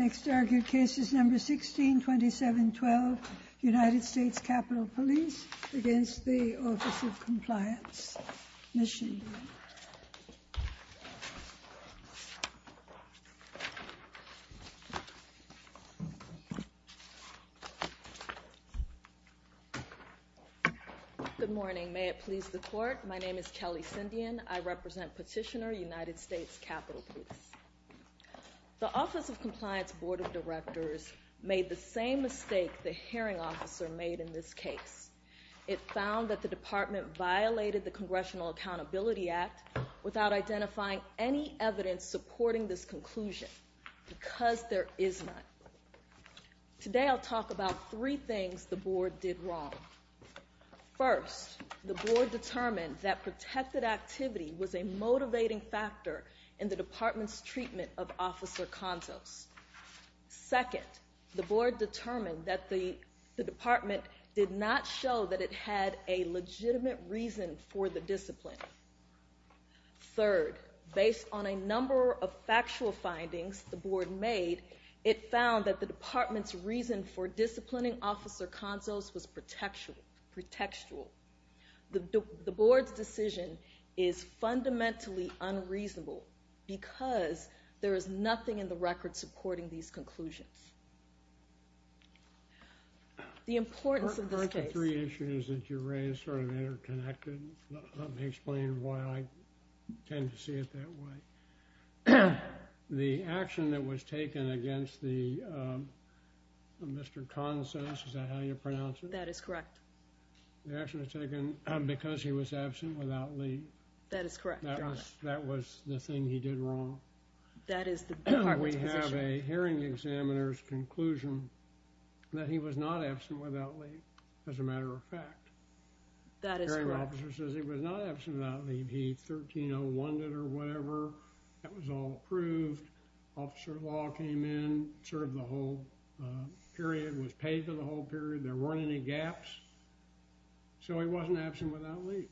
Next argued case is number 162712, United States Capitol Police against the Office of Compliance. Ms. Shindian. Good morning. May it please the Court. My name is Kelly Shindian. I represent Petitioner, United States Capitol Police. The Office of Compliance Board of Directors made the same mistake the hearing officer made in this case. It found that the department violated the Congressional Accountability Act without identifying any evidence supporting this conclusion because there is none. Today I'll talk about three things the board did wrong. First, the board determined that protected activity was a motivating factor in the department's treatment of Officer Contos. Second, the board determined that the department did not show that it had a legitimate reason for the discipline. Third, based on a number of factual findings the board made, it found that the department's reason for disciplining Officer Contos was pretextual. The board's decision is fundamentally unreasonable because there is nothing in the record supporting these conclusions. The importance of this case... The three issues that you raised sort of interconnected. Let me explain why I tend to see it that way. The action that was taken against the Mr. Contos, is that how you pronounce it? That is correct. The action was taken because he was absent without leave. That is correct, Your Honor. That is the department's position. So we have a hearing examiner's conclusion that he was not absent without leave, as a matter of fact. That is correct. The hearing officer says he was not absent without leave. He 1301'd it or whatever. That was all approved. Officer Law came in, served the whole period, was paid for the whole period. There weren't any gaps. So he wasn't absent without leave.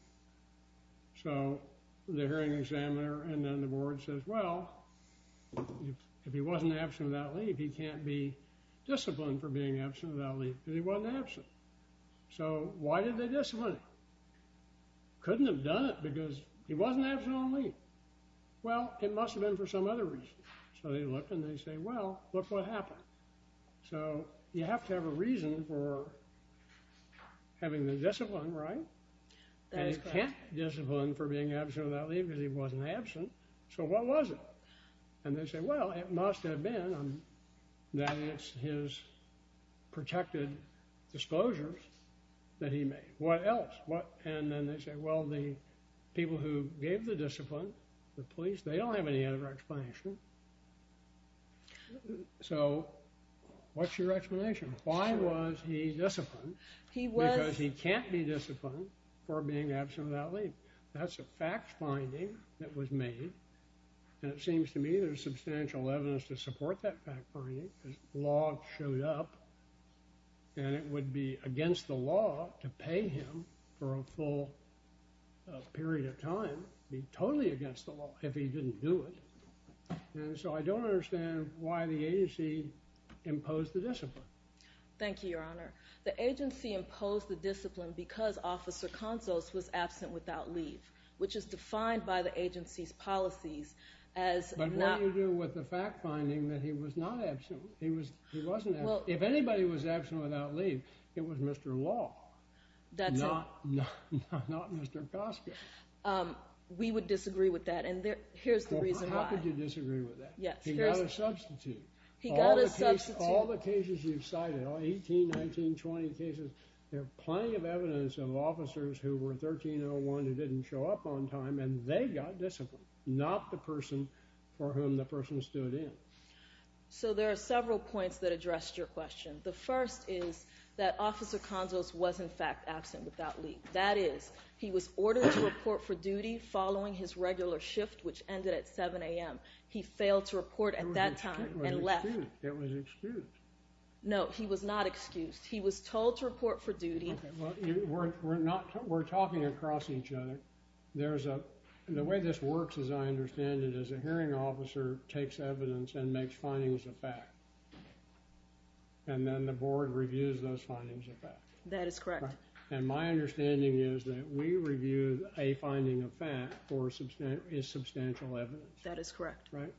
So the hearing examiner and then the board says, well, if he wasn't absent without leave, he can't be disciplined for being absent without leave because he wasn't absent. So why did they discipline him? Couldn't have done it because he wasn't absent on leave. Well, it must have been for some other reason. So they look and they say, well, look what happened. So you have to have a reason for having the discipline, right? That is correct. And he can't be disciplined for being absent without leave because he wasn't absent. So what was it? And they say, well, it must have been that it's his protected disclosures that he made. What else? And then they say, well, the people who gave the discipline, the police, they don't have any other explanation. So what's your explanation? Why was he disciplined? Because he can't be disciplined for being absent without leave. That's a fact finding that was made. And it seems to me there's substantial evidence to support that fact finding. The law showed up and it would be against the law to pay him for a full period of time. It would be totally against the law if he didn't do it. And so I don't understand why the agency imposed the discipline. Thank you, Your Honor. The agency imposed the discipline because Officer Consos was absent without leave, which is defined by the agency's policies as not- But what do you do with the fact finding that he was not absent? He wasn't absent. If anybody was absent without leave, it was Mr. Law, not Mr. Koska. We would disagree with that. And here's the reason why. How could you disagree with that? He got a substitute. He got a substitute. All the cases you've cited, all 18, 19, 20 cases, there's plenty of evidence of officers who were 1301 who didn't show up on time and they got disciplined, not the person for whom the person stood in. So there are several points that address your question. The first is that Officer Consos was, in fact, absent without leave. That is, he was ordered to report for duty following his regular shift, which ended at 7 a.m. He failed to report at that time and left. It was excused. No, he was not excused. He was told to report for duty. We're talking across each other. The way this works, as I understand it, is a hearing officer takes evidence and makes findings of fact, and then the board reviews those findings of fact. That is correct. And my understanding is that we review a finding of fact for substantial evidence. That is correct. Right?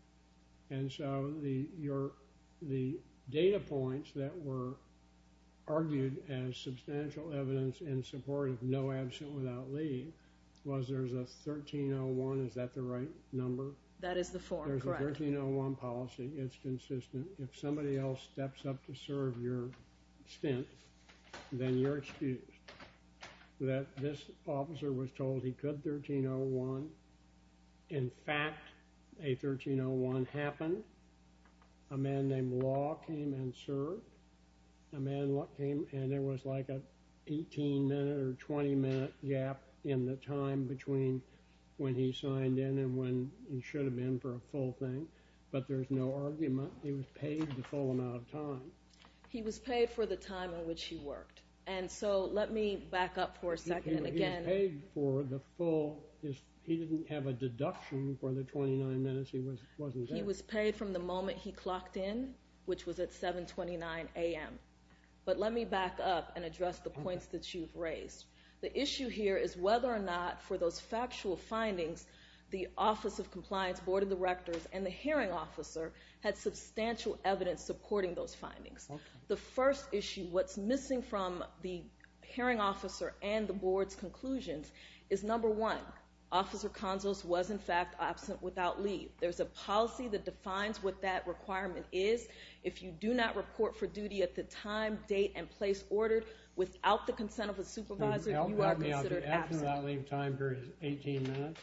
And so the data points that were argued as substantial evidence in support of no absent without leave was there's a 1301. Is that the right number? That is the form, correct. There's a 1301 policy. It's consistent. If somebody else steps up to serve your stint, then you're excused that this officer was told he could 1301. In fact, a 1301 happened. A man named Law came and served. A man came, and there was like an 18-minute or 20-minute gap in the time between when he signed in and when he should have been for a full thing. But there's no argument. He was paid the full amount of time. He was paid for the time in which he worked. And so let me back up for a second and again. He was paid for the full. He didn't have a deduction for the 29 minutes he wasn't there. He was paid from the moment he clocked in, which was at 7.29 a.m. But let me back up and address the points that you've raised. The issue here is whether or not for those factual findings, the Office of Compliance, Board of Directors, and the Hearing Officer had substantial evidence supporting those findings. The first issue, what's missing from the Hearing Officer and the Board's conclusions is, number one, Officer Consos was, in fact, absent without leave. There's a policy that defines what that requirement is. If you do not report for duty at the time, date, and place ordered without the consent of a supervisor, you are considered absent. So the absent without leave time period is 18 minutes?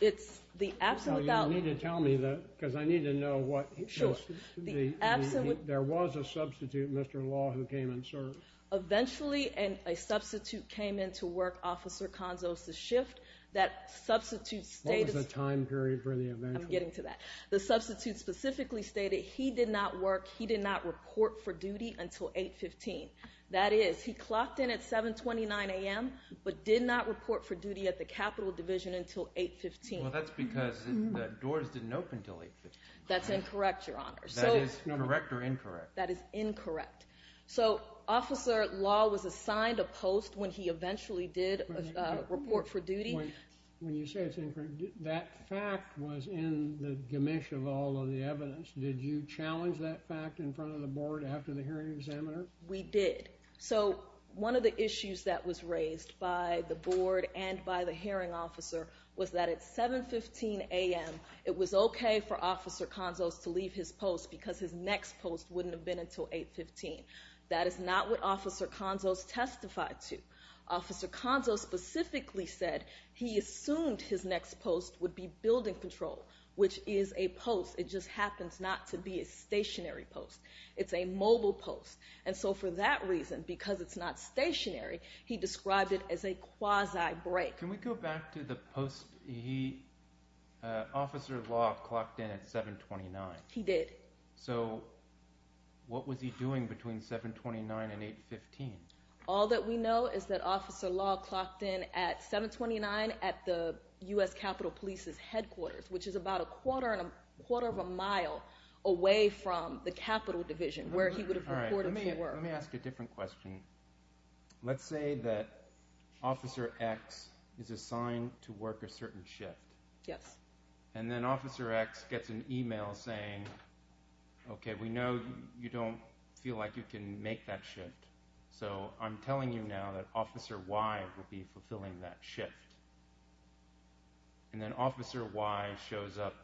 It's the absent without. You need to tell me that because I need to know what. Sure. The absent without. There was a substitute, Mr. Law, who came and served. Eventually, a substitute came in to work Officer Consos' shift. That substitute stated. What was the time period for the eventually? I'm getting to that. The substitute specifically stated he did not work, he did not report for duty until 8.15. That is, he clocked in at 7.29 a.m., but did not report for duty at the Capitol Division until 8.15. Well, that's because the doors didn't open until 8.15. That's incorrect, Your Honor. That is correct or incorrect? That is incorrect. So Officer Law was assigned a post when he eventually did report for duty. When you say it's incorrect, that fact was in the gamish of all of the evidence. Did you challenge that fact in front of the Board after the hearing examiner? We did. So one of the issues that was raised by the Board and by the hearing officer was that at 7.15 a.m. it was okay for Officer Consos to leave his post because his next post wouldn't have been until 8.15. That is not what Officer Consos testified to. Officer Consos specifically said he assumed his next post would be building control, which is a post. It just happens not to be a stationary post. It's a mobile post, and so for that reason, because it's not stationary, he described it as a quasi-break. Can we go back to the post? Officer Law clocked in at 7.29. He did. So what was he doing between 7.29 and 8.15? All that we know is that Officer Law clocked in at 7.29 at the U.S. Capitol Police's headquarters, which is about a quarter of a mile away from the Capitol Division where he would have reported to work. Let me ask a different question. Let's say that Officer X is assigned to work a certain shift. Yes. And then Officer X gets an email saying, okay, we know you don't feel like you can make that shift, so I'm telling you now that Officer Y will be fulfilling that shift. And then Officer Y shows up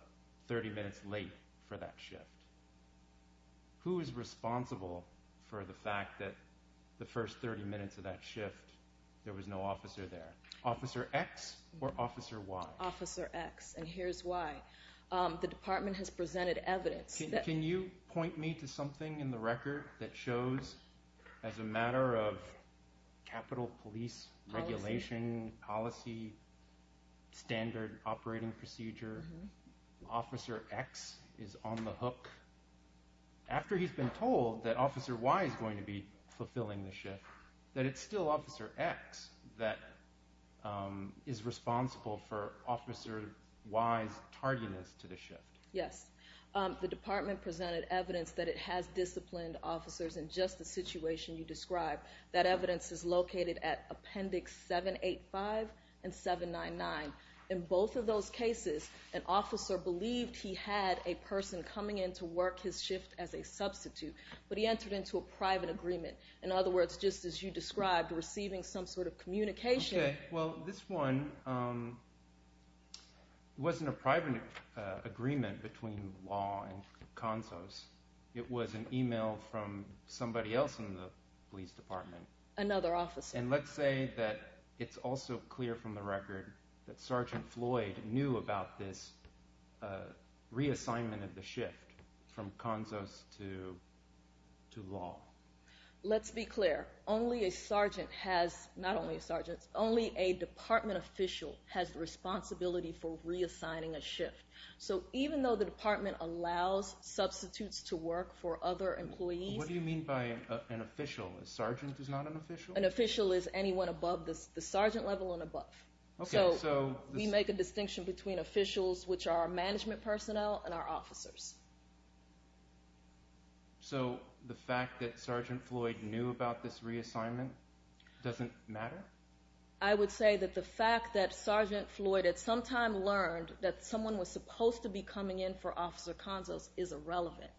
30 minutes late for that shift. Who is responsible for the fact that the first 30 minutes of that shift there was no officer there? Officer X or Officer Y? Officer X, and here's why. The department has presented evidence. Can you point me to something in the record that shows, as a matter of Capitol Police regulation, policy, standard operating procedure, Officer X is on the hook. After he's been told that Officer Y is going to be fulfilling the shift, that it's still Officer X that is responsible for Officer Y's tardiness to the shift. Yes. The department presented evidence that it has disciplined officers in just the situation you described. That evidence is located at Appendix 785 and 799. In both of those cases, an officer believed he had a person coming in to work his shift as a substitute, but he entered into a private agreement. In other words, just as you described, receiving some sort of communication. Well, this one wasn't a private agreement between law and CONSOS. It was an email from somebody else in the police department. Another officer. And let's say that it's also clear from the record that Sergeant Floyd knew about this reassignment of the shift from CONSOS to law. Let's be clear. Only a sergeant has, not only a sergeant, only a department official has the responsibility for reassigning a shift. So even though the department allows substitutes to work for other employees. What do you mean by an official? A sergeant is not an official? An official is anyone above the sergeant level and above. So we make a distinction between officials, which are our management personnel, and our officers. So the fact that Sergeant Floyd knew about this reassignment doesn't matter? I would say that the fact that Sergeant Floyd at some time learned that someone was supposed to be coming in for Officer CONSOS is irrelevant.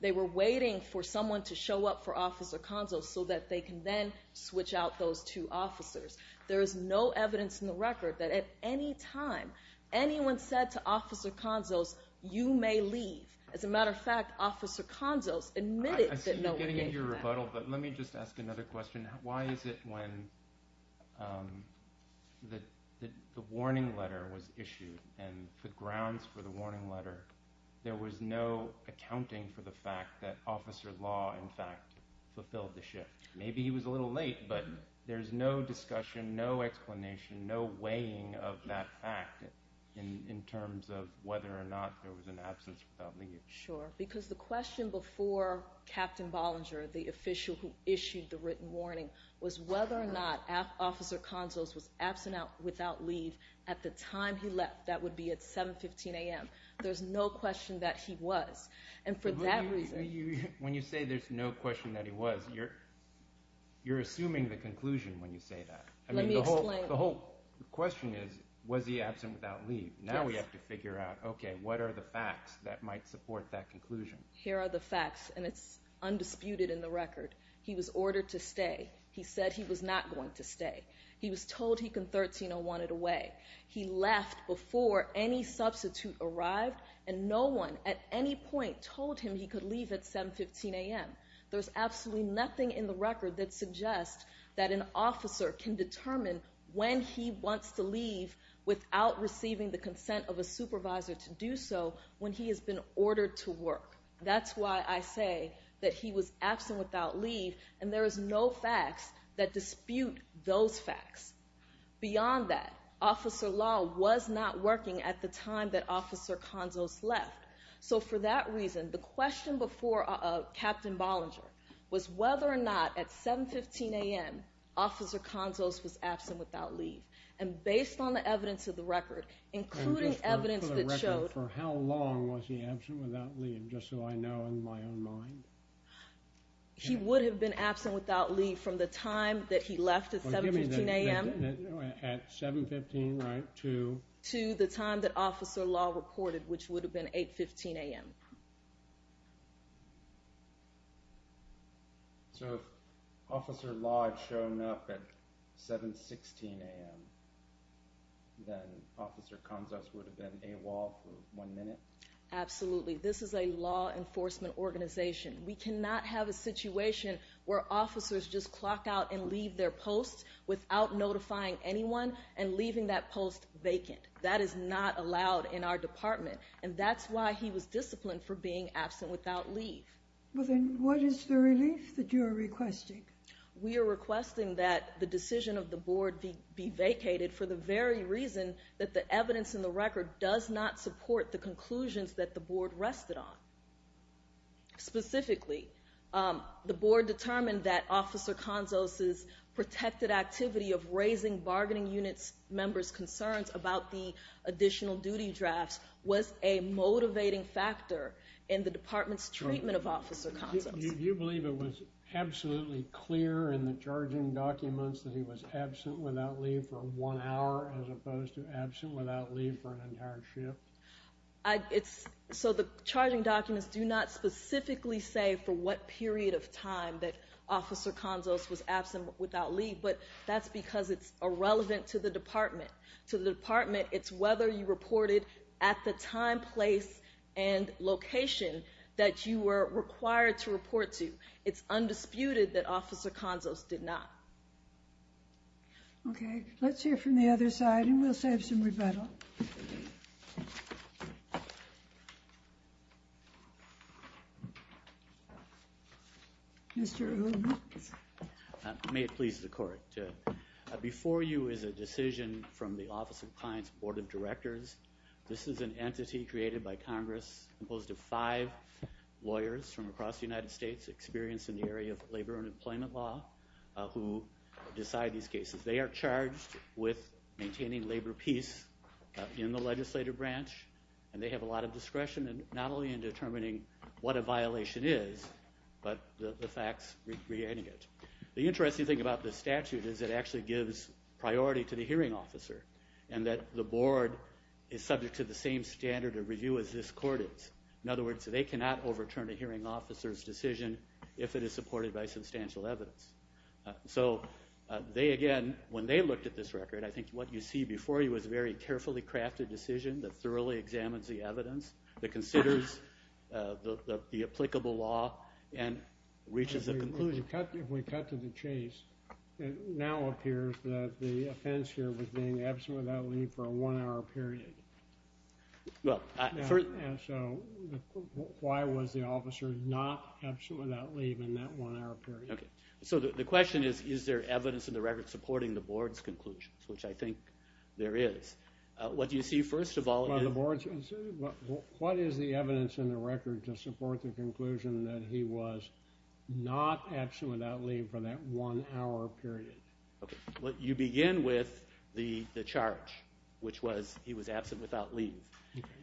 They were waiting for someone to show up for Officer CONSOS so that they can then switch out those two officers. There is no evidence in the record that at any time anyone said to Officer CONSOS, you may leave. As a matter of fact, Officer CONSOS admitted that no one came for that. I see you getting into your rebuttal, but let me just ask another question. Why is it when the warning letter was issued and the grounds for the warning letter, there was no accounting for the fact that Officer Law, in fact, fulfilled the shift? Maybe he was a little late, but there's no discussion, no explanation, no weighing of that fact in terms of whether or not there was an absence without leave. Sure, because the question before Captain Bollinger, the official who issued the written warning, was whether or not Officer CONSOS was absent without leave at the time he left. That would be at 7.15 a.m. There's no question that he was. When you say there's no question that he was, you're assuming the conclusion when you say that. Let me explain. The whole question is, was he absent without leave? Now we have to figure out, okay, what are the facts that might support that conclusion? Here are the facts, and it's undisputed in the record. He was ordered to stay. He said he was not going to stay. He was told he could 1301 it away. He left before any substitute arrived, and no one at any point told him he could leave at 7.15 a.m. There's absolutely nothing in the record that suggests that an officer can determine when he wants to leave without receiving the consent of a supervisor to do so when he has been ordered to work. That's why I say that he was absent without leave, and there is no facts that dispute those facts. Beyond that, Officer Law was not working at the time that Officer CONSOS left. So for that reason, the question before Captain Bollinger was whether or not at 7.15 a.m. Officer CONSOS was absent without leave, and based on the evidence of the record, including evidence that showed For how long was he absent without leave, just so I know in my own mind? He would have been absent without leave from the time that he left at 7.15 a.m. At 7.15, right? To the time that Officer Law reported, which would have been 8.15 a.m. So if Officer Law had shown up at 7.16 a.m., then Officer CONSOS would have been AWOL for one minute? Absolutely. This is a law enforcement organization. We cannot have a situation where officers just clock out and leave their posts without notifying anyone and leaving that post vacant. That is not allowed in our department. And that's why he was disciplined for being absent without leave. Well, then what is the relief that you are requesting? We are requesting that the decision of the board be vacated for the very reason that the evidence in the record does not support the conclusions that the board rested on. Specifically, the board determined that Officer CONSOS' protected activity of raising bargaining unit members' concerns about the additional duty drafts was a motivating factor in the department's treatment of Officer CONSOS. You believe it was absolutely clear in the charging documents that he was absent without leave for one hour as opposed to absent without leave for an entire shift? So the charging documents do not specifically say for what period of time that Officer CONSOS was absent without leave, but that's because it's irrelevant to the department. To the department, it's whether you reported at the time, place, and location that you were required to report to. It's undisputed that Officer CONSOS did not. Okay. Let's hear from the other side, and we'll save some rebuttal. Thank you. Mr. Odom. May it please the court. Before you is a decision from the Office of Appliance Board of Directors. This is an entity created by Congress composed of five lawyers from across the United States experienced in the area of labor and employment law who decide these cases. They are charged with maintaining labor peace in the legislative branch, and they have a lot of discretion not only in determining what a violation is, but the facts regarding it. The interesting thing about this statute is it actually gives priority to the hearing officer and that the board is subject to the same standard of review as this court is. In other words, they cannot overturn a hearing officer's decision if it is supported by substantial evidence. So they, again, when they looked at this record, I think what you see before you is a very carefully crafted decision that thoroughly examines the evidence, that considers the applicable law, and reaches a conclusion. If we cut to the chase, it now appears that the offense here was being absent without leave for a one-hour period. So why was the officer not absent without leave in that one-hour period? So the question is, is there evidence in the record supporting the board's conclusions, which I think there is. What do you see first of all? What is the evidence in the record to support the conclusion that he was not absent without leave for that one-hour period? You begin with the charge, which was he was absent without leave,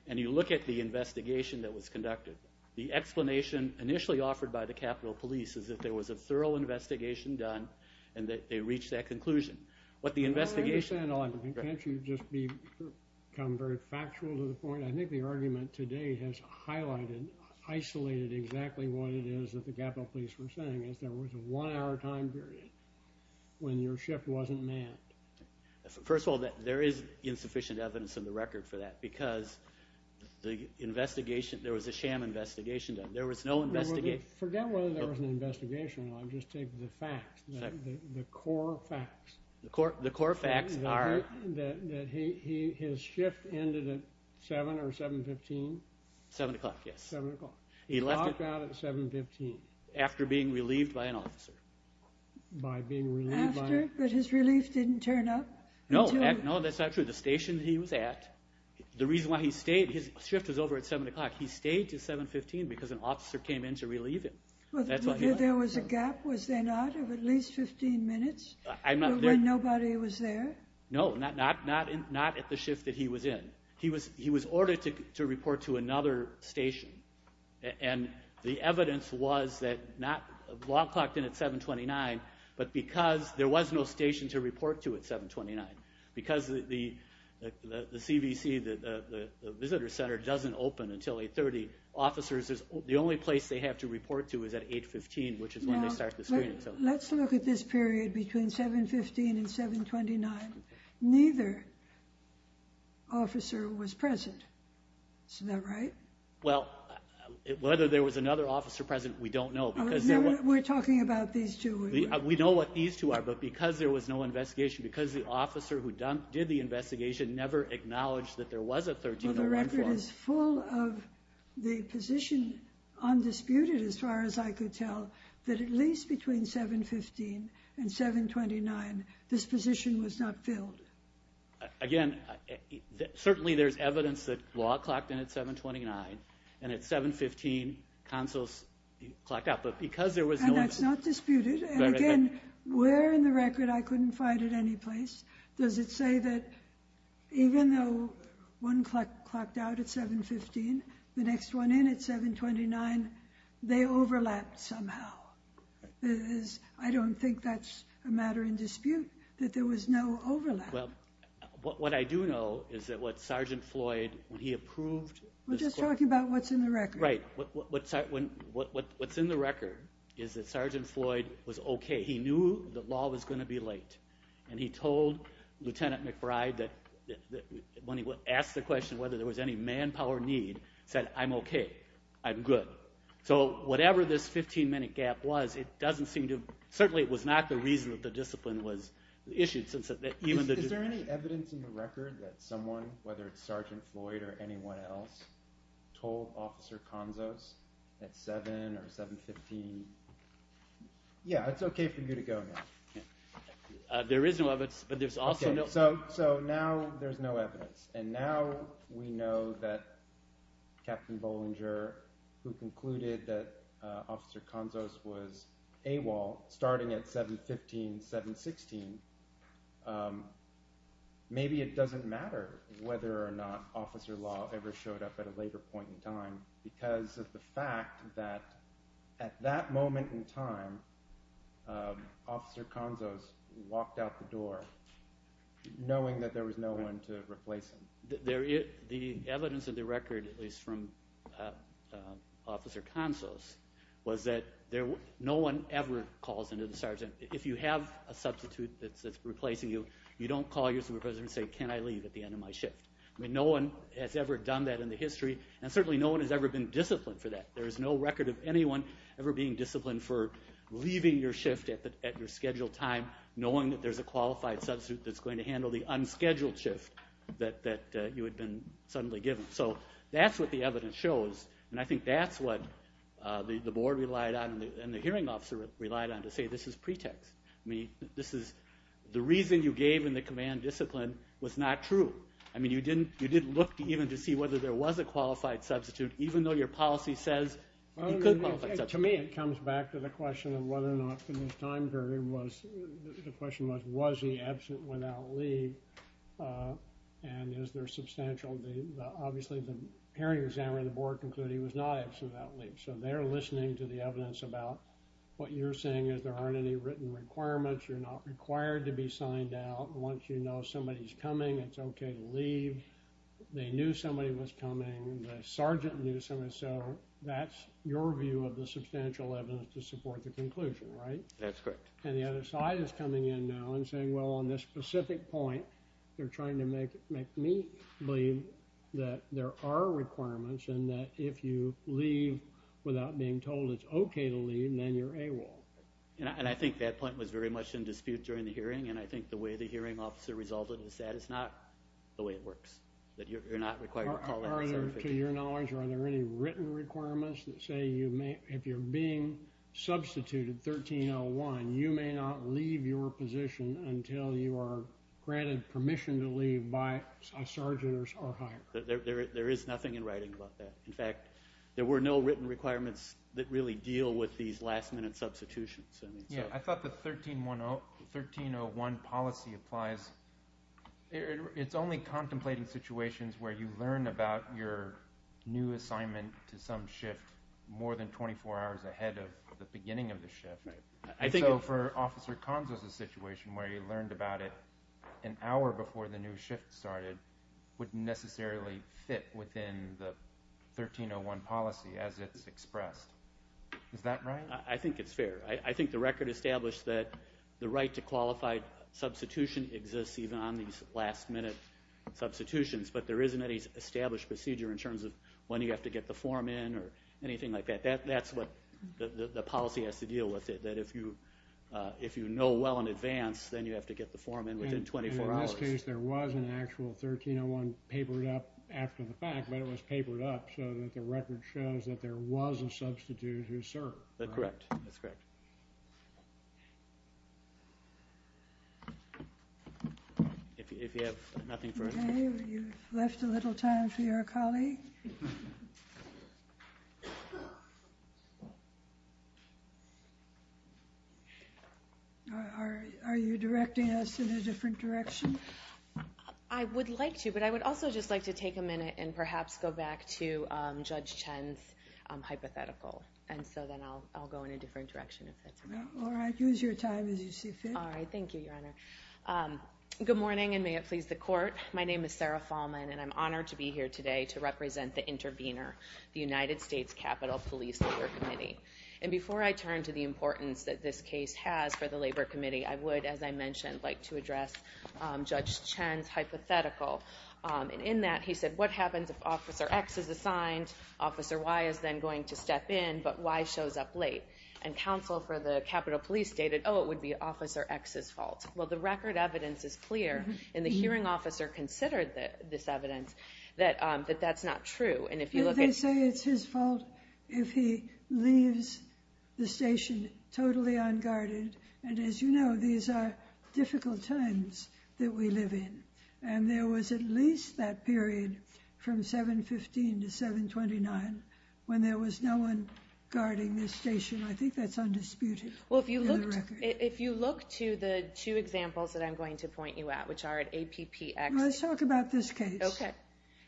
and you look at the investigation that was conducted. The explanation initially offered by the Capitol Police is that there was a thorough investigation done, and that they reached that conclusion. I don't understand the argument. Can't you just become very factual to the point? I think the argument today has highlighted, isolated exactly what it is that the Capitol Police were saying, is there was a one-hour time period when your shift wasn't manned. First of all, there is insufficient evidence in the record for that, because there was a sham investigation done. Forget whether there was an investigation. I'll just take the facts, the core facts. The core facts are? That his shift ended at 7 or 7.15. 7 o'clock, yes. 7 o'clock. He left at 7.15. After being relieved by an officer. After? But his relief didn't turn up? No, that's not true. The station he was at, the reason why he stayed, his shift was over at 7 o'clock. He stayed to 7.15 because an officer came in to relieve him. There was a gap, was there not, of at least 15 minutes? When nobody was there? No, not at the shift that he was in. He was ordered to report to another station, and the evidence was that not... The law clocked in at 7.29, but because there was no station to report to at 7.29, because the CVC, the visitor center, doesn't open until 8.30, the only place they have to report to is at 8.15, which is when they start the screening. Let's look at this period between 7.15 and 7.29. Neither officer was present. Isn't that right? Well, whether there was another officer present, we don't know. We're talking about these two. We know what these two are, but because there was no investigation, because the officer who did the investigation never acknowledged that there was a 13-11 force... Well, the record is full of the position undisputed, as far as I could tell, that at least between 7.15 and 7.29, this position was not filled. Again, certainly there's evidence that law clocked in at 7.29, and at 7.15, consuls clocked out, but because there was no... And that's not disputed, and again, where in the record I couldn't find it anyplace, does it say that even though one clocked out at 7.15, the next one in at 7.29, they overlapped somehow? I don't think that's a matter in dispute, that there was no overlap. Well, what I do know is that what Sergeant Floyd, when he approved... We're just talking about what's in the record. Right. What's in the record is that Sergeant Floyd was okay. He knew that law was going to be late, and he told Lieutenant McBride that when he asked the question whether there was any manpower need, he said, I'm okay, I'm good. So whatever this 15-minute gap was, it doesn't seem to... Certainly it was not the reason that the discipline was issued. Is there any evidence in the record that someone, whether it's Sergeant Floyd or anyone else, told Officer Conzos at 7 or 7.15, yeah, it's okay for you to go now? There is no evidence, but there's also no... So now there's no evidence, and now we know that Captain Bollinger, who concluded that Officer Conzos was AWOL starting at 7.15, 7.16, maybe it doesn't matter whether or not Officer Law ever showed up at a later point in time because of the fact that at that moment in time, Officer Conzos walked out the door knowing that there was no one to replace him. The evidence of the record, at least from Officer Conzos, was that no one ever calls into the sergeant. If you have a substitute that's replacing you, you don't call your supervisor and say, can I leave at the end of my shift? I mean, no one has ever done that in the history, and certainly no one has ever been disciplined for that. There is no record of anyone ever being disciplined for leaving your shift at your scheduled time, knowing that there's a qualified substitute that's going to handle the unscheduled shift that you had been suddenly given. So that's what the evidence shows, and I think that's what the board relied on and the hearing officer relied on to say this is pretext. I mean, the reason you gave in the command discipline was not true. I mean, you didn't look even to see whether there was a qualified substitute, even though your policy says you could qualify a substitute. To me, it comes back to the question of whether or not the time period was – the question was, was he absent without leave, and is there substantial – obviously the hearing examiner and the board concluded he was not absent without leave. So they're listening to the evidence about what you're saying is there aren't any written requirements, you're not required to be signed out. Once you know somebody's coming, it's okay to leave. They knew somebody was coming. The sergeant knew somebody was coming. So that's your view of the substantial evidence to support the conclusion, right? That's correct. And the other side is coming in now and saying, well, on this specific point, they're trying to make me believe that there are requirements and that if you leave without being told it's okay to leave, then you're AWOL. And I think that point was very much in dispute during the hearing, and I think the way the hearing officer resolved it is that it's not the way it works, that you're not required to call that certification. To your knowledge, are there any written requirements that say if you're being substituted 1301, you may not leave your position until you are granted permission to leave by a sergeant or higher? There is nothing in writing about that. In fact, there were no written requirements that really deal with these last-minute substitutions. Yeah, I thought the 1301 policy applies. It's only contemplating situations where you learn about your new assignment to some shift more than 24 hours ahead of the beginning of the shift. So for Officer Conzo's situation where he learned about it an hour before the new shift started wouldn't necessarily fit within the 1301 policy as it's expressed. Is that right? I think it's fair. I think the record established that the right to qualified substitution exists even on these last-minute substitutions, but there isn't any established procedure in terms of when you have to get the form in or anything like that. That's what the policy has to deal with, that if you know well in advance, then you have to get the form in within 24 hours. In this case, there was an actual 1301 papered up after the fact, but it was papered up so that the record shows that there was a substitute who served. Correct. That's correct. If you have nothing further. Okay, you've left a little time for your colleague. Are you directing us in a different direction? I would like to, but I would also just like to take a minute and perhaps go back to Judge Chen's hypothetical. Then I'll go in a different direction if that's okay. All right. Use your time as you see fit. All right. Thank you, Your Honor. Good morning, and may it please the Court. My name is Sarah Fahlman, and I'm honored to be here today to represent the intervener, the United States Capitol Police Labor Committee. Before I turn to the importance that this case has for the Labor Committee, I would, as I mentioned, like to address Judge Chen's hypothetical. In that, he said, what happens if Officer X is assigned, Officer Y is then going to step in, but Y shows up late? And counsel for the Capitol Police stated, oh, it would be Officer X's fault. Well, the record evidence is clear, and the hearing officer considered this evidence that that's not true. And if you look at- They say it's his fault if he leaves the station totally unguarded, and as you know, these are difficult times that we live in. And there was at least that period from 7-15 to 7-29 when there was no one guarding this station. I think that's undisputed in the record. Well, if you look to the two examples that I'm going to point you at, which are at APPX- Let's talk about this case. Okay.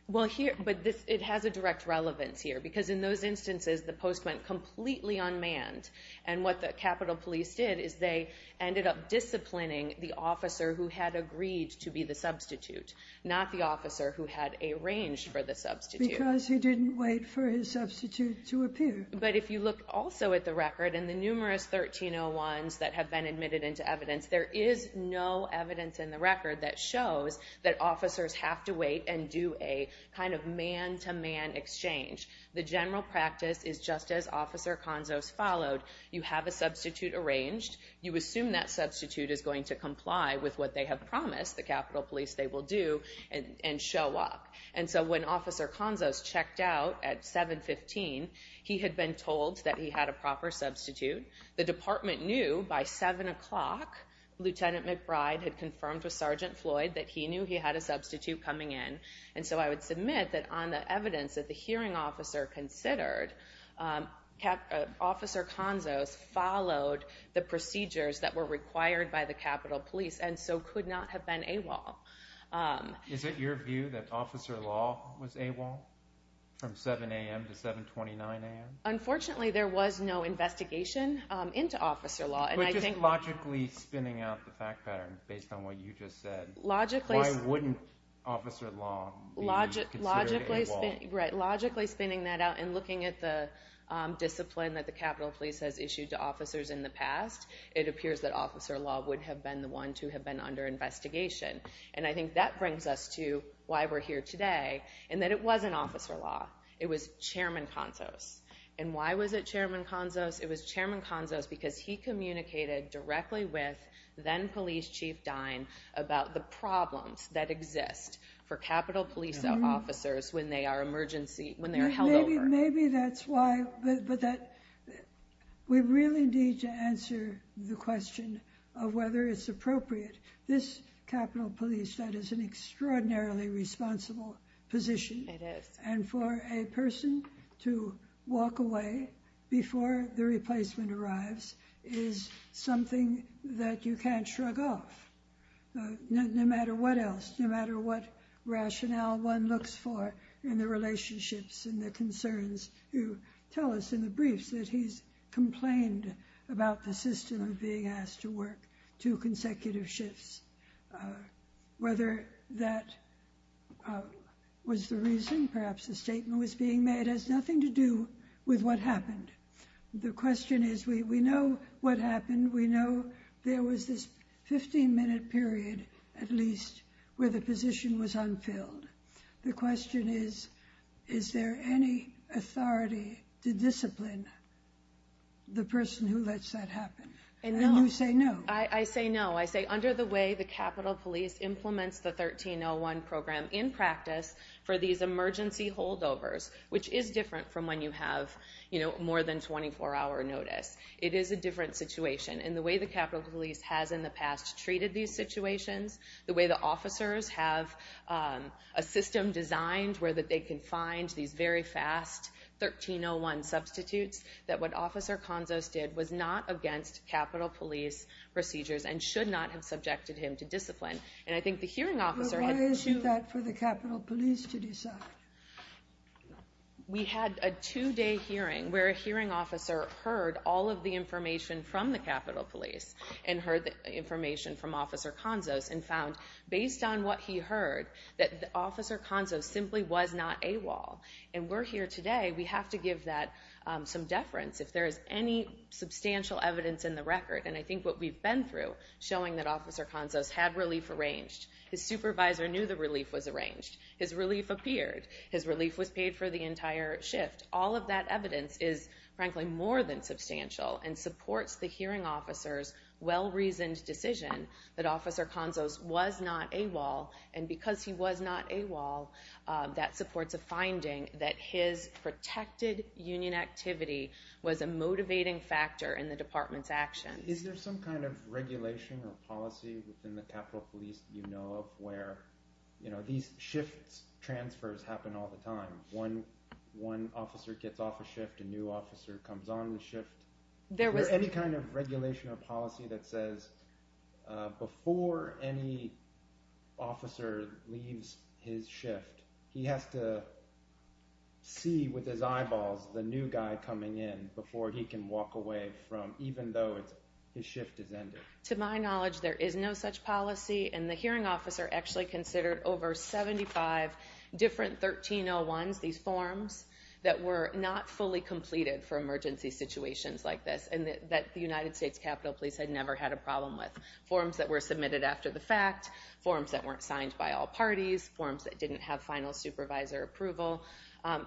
Well, here, but it has a direct relevance here, because in those instances, the post went completely unmanned, and what the Capitol Police did is they ended up disciplining the officer who had agreed to be the substitute, not the officer who had arranged for the substitute. Because he didn't wait for his substitute to appear. But if you look also at the record, in the numerous 1301s that have been admitted into evidence, there is no evidence in the record that shows that officers have to wait and do a kind of man-to-man exchange. The general practice is just as Officer Conzos followed. You have a substitute arranged. You assume that substitute is going to comply with what they have promised, the Capitol Police, they will do, and show up. And so when Officer Conzos checked out at 7-15, he had been told that he had a proper substitute. The department knew by 7 o'clock, Lieutenant McBride had confirmed with Sergeant Floyd that he knew he had a substitute coming in. And so I would submit that on the evidence that the hearing officer considered, Officer Conzos followed the procedures that were required by the Capitol Police and so could not have been AWOL. Is it your view that Officer Law was AWOL from 7 a.m. to 7-29 a.m.? Unfortunately, there was no investigation into Officer Law. But just logically spinning out the fact pattern based on what you just said, why wouldn't Officer Law be considered AWOL? Logically spinning that out and looking at the discipline that the Capitol Police has issued to officers in the past, it appears that Officer Law would have been the one to have been under investigation. And I think that brings us to why we're here today, and that it wasn't Officer Law. It was Chairman Conzos. And why was it Chairman Conzos? It was Chairman Conzos because he communicated directly with then-Police Chief Stein about the problems that exist for Capitol Police officers when they are held over. Maybe that's why. But we really need to answer the question of whether it's appropriate. This Capitol Police, that is an extraordinarily responsible position. It is. And for a person to walk away before the replacement arrives is something that you can't shrug off. No matter what else, no matter what rationale one looks for in the relationships and the concerns you tell us in the briefs that he's complained about the system of being asked to work two consecutive shifts. Whether that was the reason perhaps the statement was being made has nothing to do with what happened. The question is we know what happened. We know there was this 15-minute period at least where the position was unfilled. The question is, is there any authority to discipline the person who lets that happen? And you say no. I say no. I say under the way the Capitol Police implements the 1301 program in practice for these emergency holdovers, which is different from when you have more than a 24-hour notice, it is a different situation. And the way the Capitol Police has in the past treated these situations, the way the officers have a system designed where that they can find these very fast 1301 substitutes, that what Officer Konzos did was not against Capitol Police procedures and should not have subjected him to discipline. And I think the hearing officer had to— But why is it that for the Capitol Police to decide? We had a two-day hearing where a hearing officer heard all of the information from the Capitol Police and heard the information from Officer Konzos and found based on what he heard that Officer Konzos simply was not AWOL. And we're here today. We have to give that some deference if there is any substantial evidence in the record. And I think what we've been through showing that Officer Konzos had relief arranged. His supervisor knew the relief was arranged. His relief appeared. His relief was paid for the entire shift. All of that evidence is, frankly, more than substantial and supports the hearing officer's well-reasoned decision that Officer Konzos was not AWOL. And because he was not AWOL, that supports a finding that his protected union activity was a motivating factor in the department's actions. Is there some kind of regulation or policy within the Capitol Police that you know of where these shifts, transfers, happen all the time? One officer gets off a shift, a new officer comes on the shift? There was... Is there any kind of regulation or policy that says before any officer leaves his shift, he has to see with his eyeballs the new guy coming in before he can walk away from, even though his shift has ended? To my knowledge, there is no such policy. And the hearing officer actually considered over 75 different 1301s, these forms, that were not fully completed for emergency situations like this and that the United States Capitol Police had never had a problem with. Forms that were submitted after the fact. Forms that weren't signed by all parties. Forms that didn't have final supervisor approval.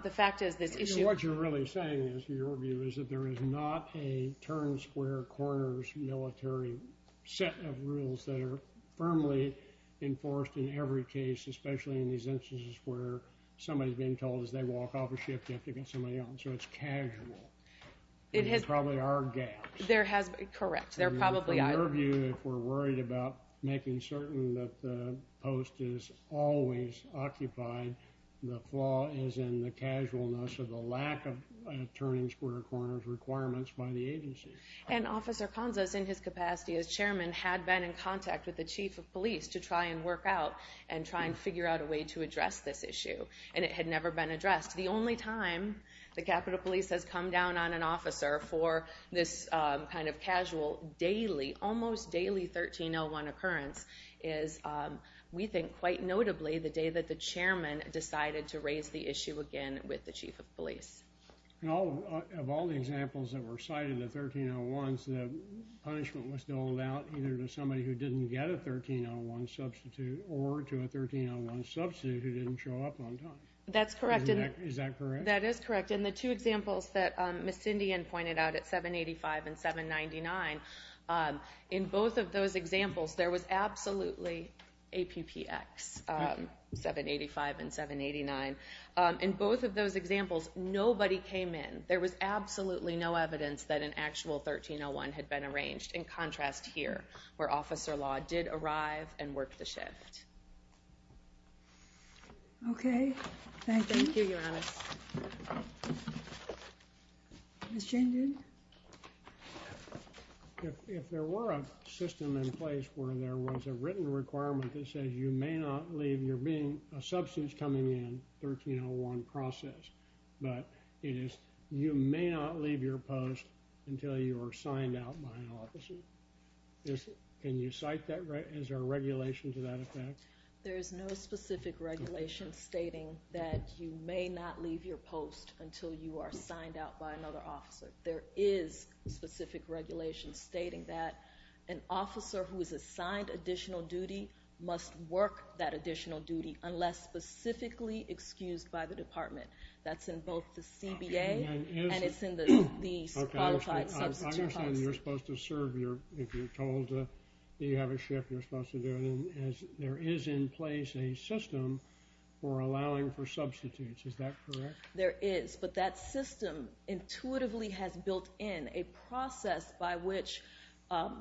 The fact is, this issue... is that there is not a turn, square, corners military set of rules that are firmly enforced in every case, especially in these instances where somebody's being told as they walk off a shift, you have to get somebody on. So it's casual. There probably are gaps. Correct. There probably are. In your view, if we're worried about making certain that the post is always occupied, the flaw is in the casualness of the lack of turning square corners requirements by the agency. And Officer Conza is in his capacity as chairman, had been in contact with the chief of police to try and work out and try and figure out a way to address this issue. And it had never been addressed. The only time the Capitol Police has come down on an officer for this kind of casual, daily, almost daily 1301 occurrence is, we think, quite notably the day that the chairman decided to raise the issue again with the chief of police. Of all the examples that were cited in the 1301s, the punishment was doled out either to somebody who didn't get a 1301 substitute or to a 1301 substitute who didn't show up on time. That's correct. Is that correct? That is correct. In the two examples that Ms. Indien pointed out at 785 and 799, in both of those examples, there was absolutely a PPX, 785 and 789. In both of those examples, nobody came in. There was absolutely no evidence that an actual 1301 had been arranged. In contrast here, where Officer Law did arrive and work the shift. Thank you. Thank you, Your Honor. Yes. Ms. Jane Dune? If there were a system in place where there was a written requirement that says you may not leave, you're being a substitute coming in, 1301 process, but it is, you may not leave your post until you are signed out by an officer. Can you cite that? Is there a regulation to that effect? There is no specific regulation stating that you may not leave your post until you are signed out by another officer. There is specific regulation stating that an officer who is assigned additional duty must work that additional duty unless specifically excused by the department. That's in both the CBA and it's in the Qualified Substitute Parts. I understand you're supposed to serve if you're told that you have a shift. You're supposed to do it. There is in place a system for allowing for substitutes. Is that correct? There is, but that system intuitively has built in a process by which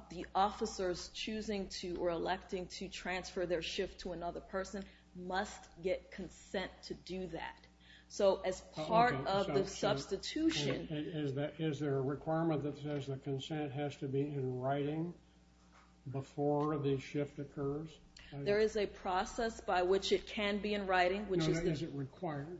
the officers choosing to or electing to transfer their shift to another person must get consent to do that. So as part of the substitution— Is there a requirement that says the consent has to be in writing before the shift occurs? There is a process by which it can be in writing. Is it required?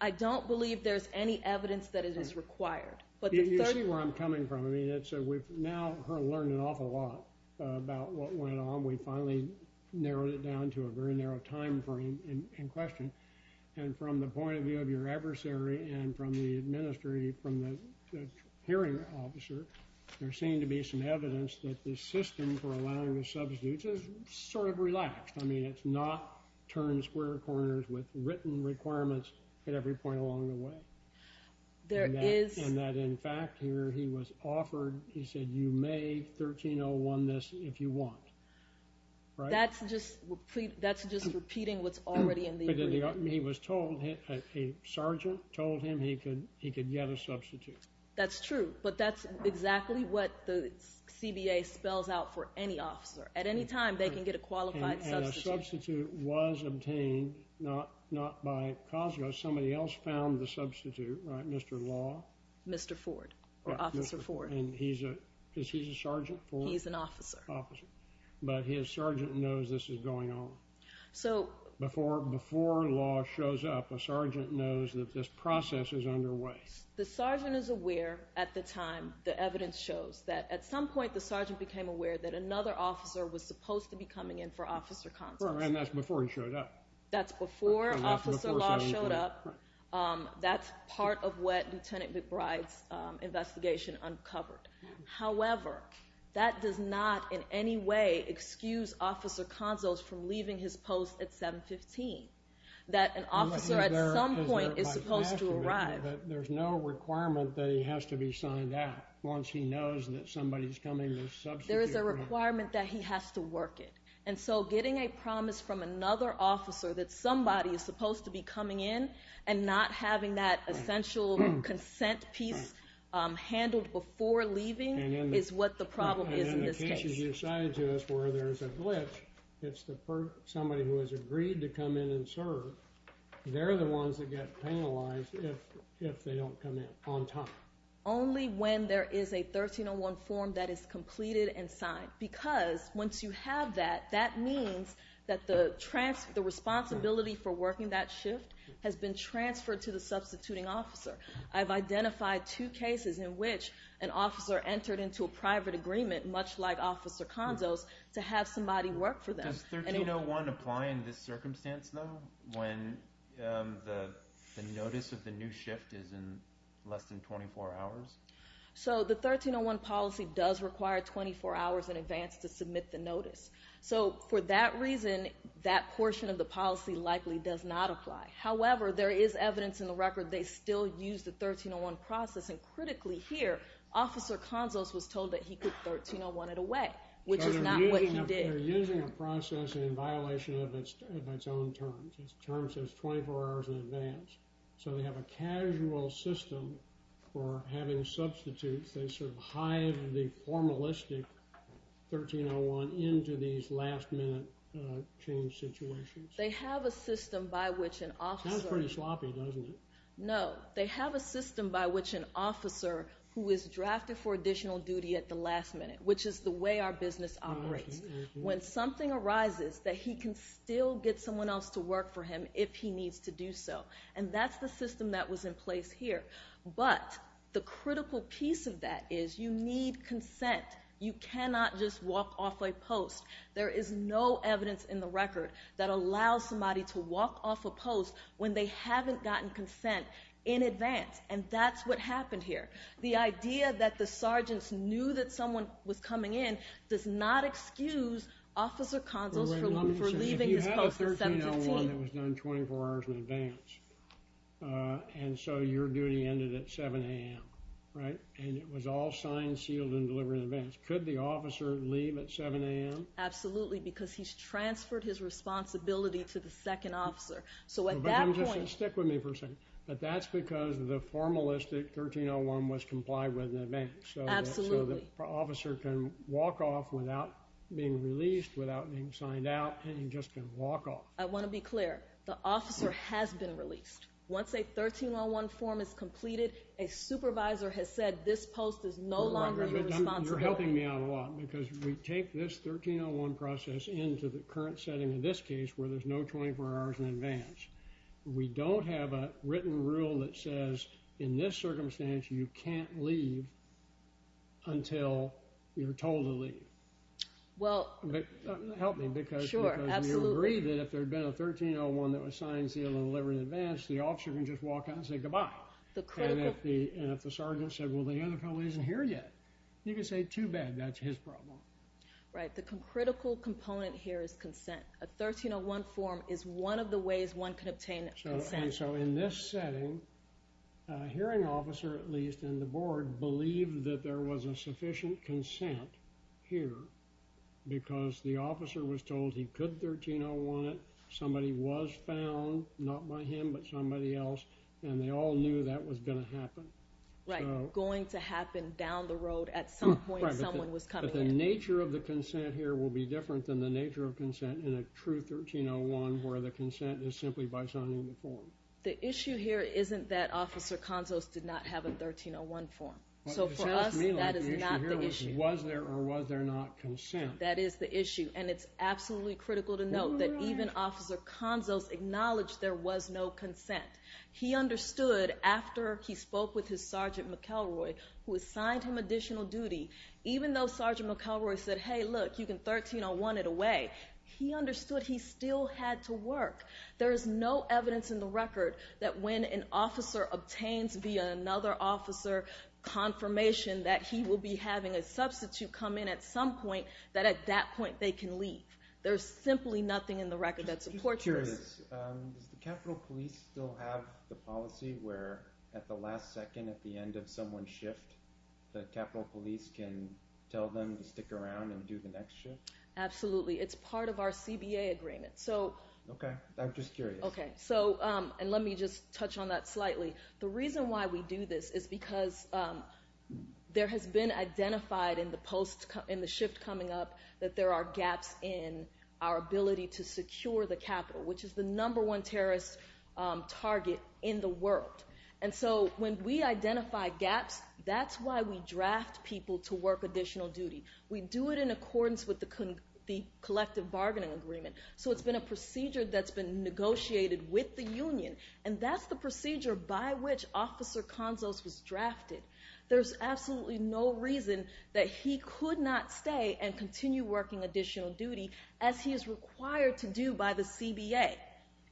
I don't believe there's any evidence that it is required. You see where I'm coming from. We've now learned an awful lot about what went on. We finally narrowed it down to a very narrow time frame in question. From the point of view of your adversary and from the hearing officer, there seemed to be some evidence that the system for allowing the substitutes is sort of relaxed. I mean, it's not turning square corners with written requirements at every point along the way. There is— And that, in fact, here he was offered, he said, you may 1301 this if you want. That's just repeating what's already in the agreement. But he was told, a sergeant told him he could get a substitute. That's true, but that's exactly what the CBA spells out for any officer. At any time, they can get a qualified substitute. And a substitute was obtained not by Cosgrove. Somebody else found the substitute, right, Mr. Law? Mr. Ford or Officer Ford. And he's a sergeant? He's an officer. But his sergeant knows this is going on. So— Before Law shows up, a sergeant knows that this process is underway. The sergeant is aware at the time, the evidence shows, that at some point the sergeant became aware that another officer was supposed to be coming in for Officer Conzals. And that's before he showed up. That's before Officer Law showed up. That's part of what Lieutenant McBride's investigation uncovered. However, that does not in any way excuse Officer Conzals from leaving his post at 715, that an officer at some point is supposed to arrive. But there's no requirement that he has to be signed out once he knows that somebody's coming to substitute. There is a requirement that he has to work it. And so getting a promise from another officer that somebody is supposed to be coming in and not having that essential consent piece handled before leaving is what the problem is in this case. And in the cases you cited to us where there's a glitch, it's somebody who has agreed to come in and serve. They're the ones that get penalized if they don't come in on time. Only when there is a 1301 form that is completed and signed. Because once you have that, that means that the responsibility for working that shift has been transferred to the substituting officer. I've identified two cases in which an officer entered into a private agreement, much like Officer Conzals, to have somebody work for them. Does 1301 apply in this circumstance, though, when the notice of the new shift is in less than 24 hours? So the 1301 policy does require 24 hours in advance to submit the notice. So for that reason, that portion of the policy likely does not apply. However, there is evidence in the record they still use the 1301 process. And critically here, Officer Conzals was told that he could 1301 it away, which is not what he did. So they're using a process in violation of its own terms. The term says 24 hours in advance. So they have a casual system for having substitutes. They sort of hive the formalistic 1301 into these last-minute change situations. They have a system by which an officer... Sounds pretty sloppy, doesn't it? No, they have a system by which an officer who is drafted for additional duty at the last minute, which is the way our business operates, when something arises that he can still get someone else to work for him if he needs to do so. And that's the system that was in place here. But the critical piece of that is you need consent. You cannot just walk off a post. There is no evidence in the record that allows somebody to walk off a post when they haven't gotten consent in advance. And that's what happened here. The idea that the sergeants knew that someone was coming in does not excuse Officer Conzals for leaving his post at 7 to 10. If you have a 1301 that was done 24 hours in advance and so your duty ended at 7 a.m., right, and it was all signed, sealed, and delivered in advance, could the officer leave at 7 a.m.? Absolutely, because he's transferred his responsibility to the second officer. So at that point... Stick with me for a second. But that's because the formalistic 1301 was complied with in advance. Absolutely. So the officer can walk off without being released, without being signed out, and he just can walk off. I want to be clear. The officer has been released. Once a 1301 form is completed, a supervisor has said this post is no longer your responsibility. You're helping me out a lot because we take this 1301 process into the current setting in this case where there's no 24 hours in advance. We don't have a written rule that says in this circumstance you can't leave until you're told to leave. Well... Help me. Sure, absolutely. Because when you agree that if there had been a 1301 that was signed, sealed, and delivered in advance, the officer can just walk out and say goodbye. The critical... And if the sergeant said, well, the other fellow isn't here yet, you can say, too bad, that's his problem. Right. The critical component here is consent. A 1301 form is one of the ways one can obtain consent. And so in this setting, a hearing officer, at least, and the board believed that there was a sufficient consent here because the officer was told he could 1301 it, somebody was found, not by him but somebody else, and they all knew that was going to happen. Right, going to happen down the road. At some point someone was coming in. But the nature of the consent here will be different than the nature of consent in a true 1301 where the consent is simply by signing the form. The issue here isn't that Officer Konzos did not have a 1301 form. So for us, that is not the issue. Was there or was there not consent? That is the issue, and it's absolutely critical to note that even Officer Konzos acknowledged there was no consent. He understood after he spoke with his Sergeant McElroy, who assigned him additional duty, even though Sergeant McElroy said, Hey, look, you can 1301 it away. He understood he still had to work. There is no evidence in the record that when an officer obtains via another officer confirmation that he will be having a substitute come in at some point, that at that point they can leave. There is simply nothing in the record that supports this. Does the Capitol Police still have the policy where at the last second at the end of someone's shift, the Capitol Police can tell them to stick around and do the next shift? Absolutely. It's part of our CBA agreement. Okay. I'm just curious. Okay. And let me just touch on that slightly. The reason why we do this is because there has been identified in the shift coming up that there are gaps in our ability to secure the Capitol, which is the number one terrorist target in the world. And so when we identify gaps, that's why we draft people to work additional duty. We do it in accordance with the collective bargaining agreement. So it's been a procedure that's been negotiated with the union, and that's the procedure by which Officer Conzos was drafted. There's absolutely no reason that he could not stay and continue working additional duty as he is required to do by the CBA.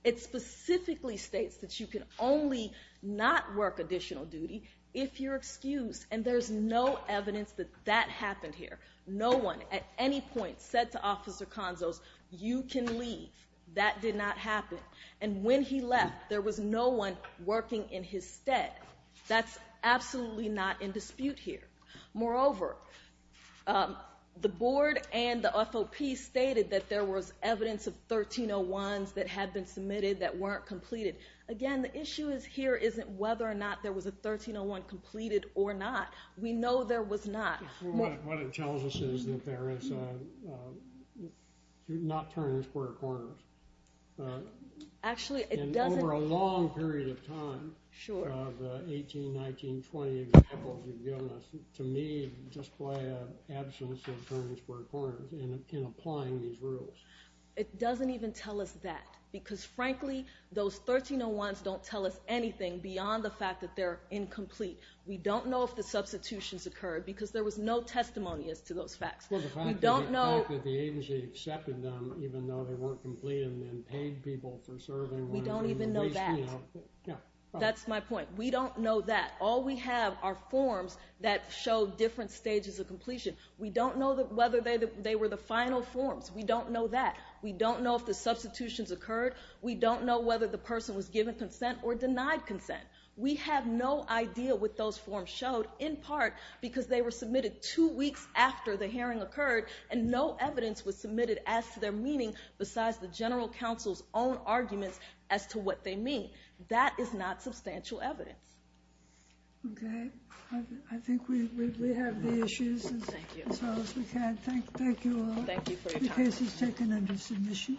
It specifically states that you can only not work additional duty if you're excused, and there's no evidence that that happened here. No one at any point said to Officer Conzos, you can leave. That did not happen. And when he left, there was no one working in his stead. That's absolutely not in dispute here. Moreover, the board and the FOP stated that there was evidence of 1301s that had been submitted that weren't completed. Again, the issue here isn't whether or not there was a 1301 completed or not. We know there was not. What it tells us is that there is not turning square corners. Actually, it doesn't. Over a long period of time, the 18, 19, 20 examples you've given us, to me display an absence of turning square corners in applying these rules. It doesn't even tell us that, because, frankly, those 1301s don't tell us anything beyond the fact that they're incomplete. We don't know if the substitutions occurred because there was no testimony as to those facts. Well, the fact that the agency accepted them even though they weren't completed and paid people for serving was a waste. We don't even know that. That's my point. We don't know that. All we have are forms that show different stages of completion. We don't know whether they were the final forms. We don't know that. We don't know if the substitutions occurred. We don't know whether the person was given consent or denied consent. We have no idea what those forms showed, in part because they were submitted two weeks after the hearing occurred, and no evidence was submitted as to their meaning besides the general counsel's own arguments as to what they mean. That is not substantial evidence. Okay. I think we have the issues as well as we can. Thank you all. Thank you for your time. The case is taken under submission.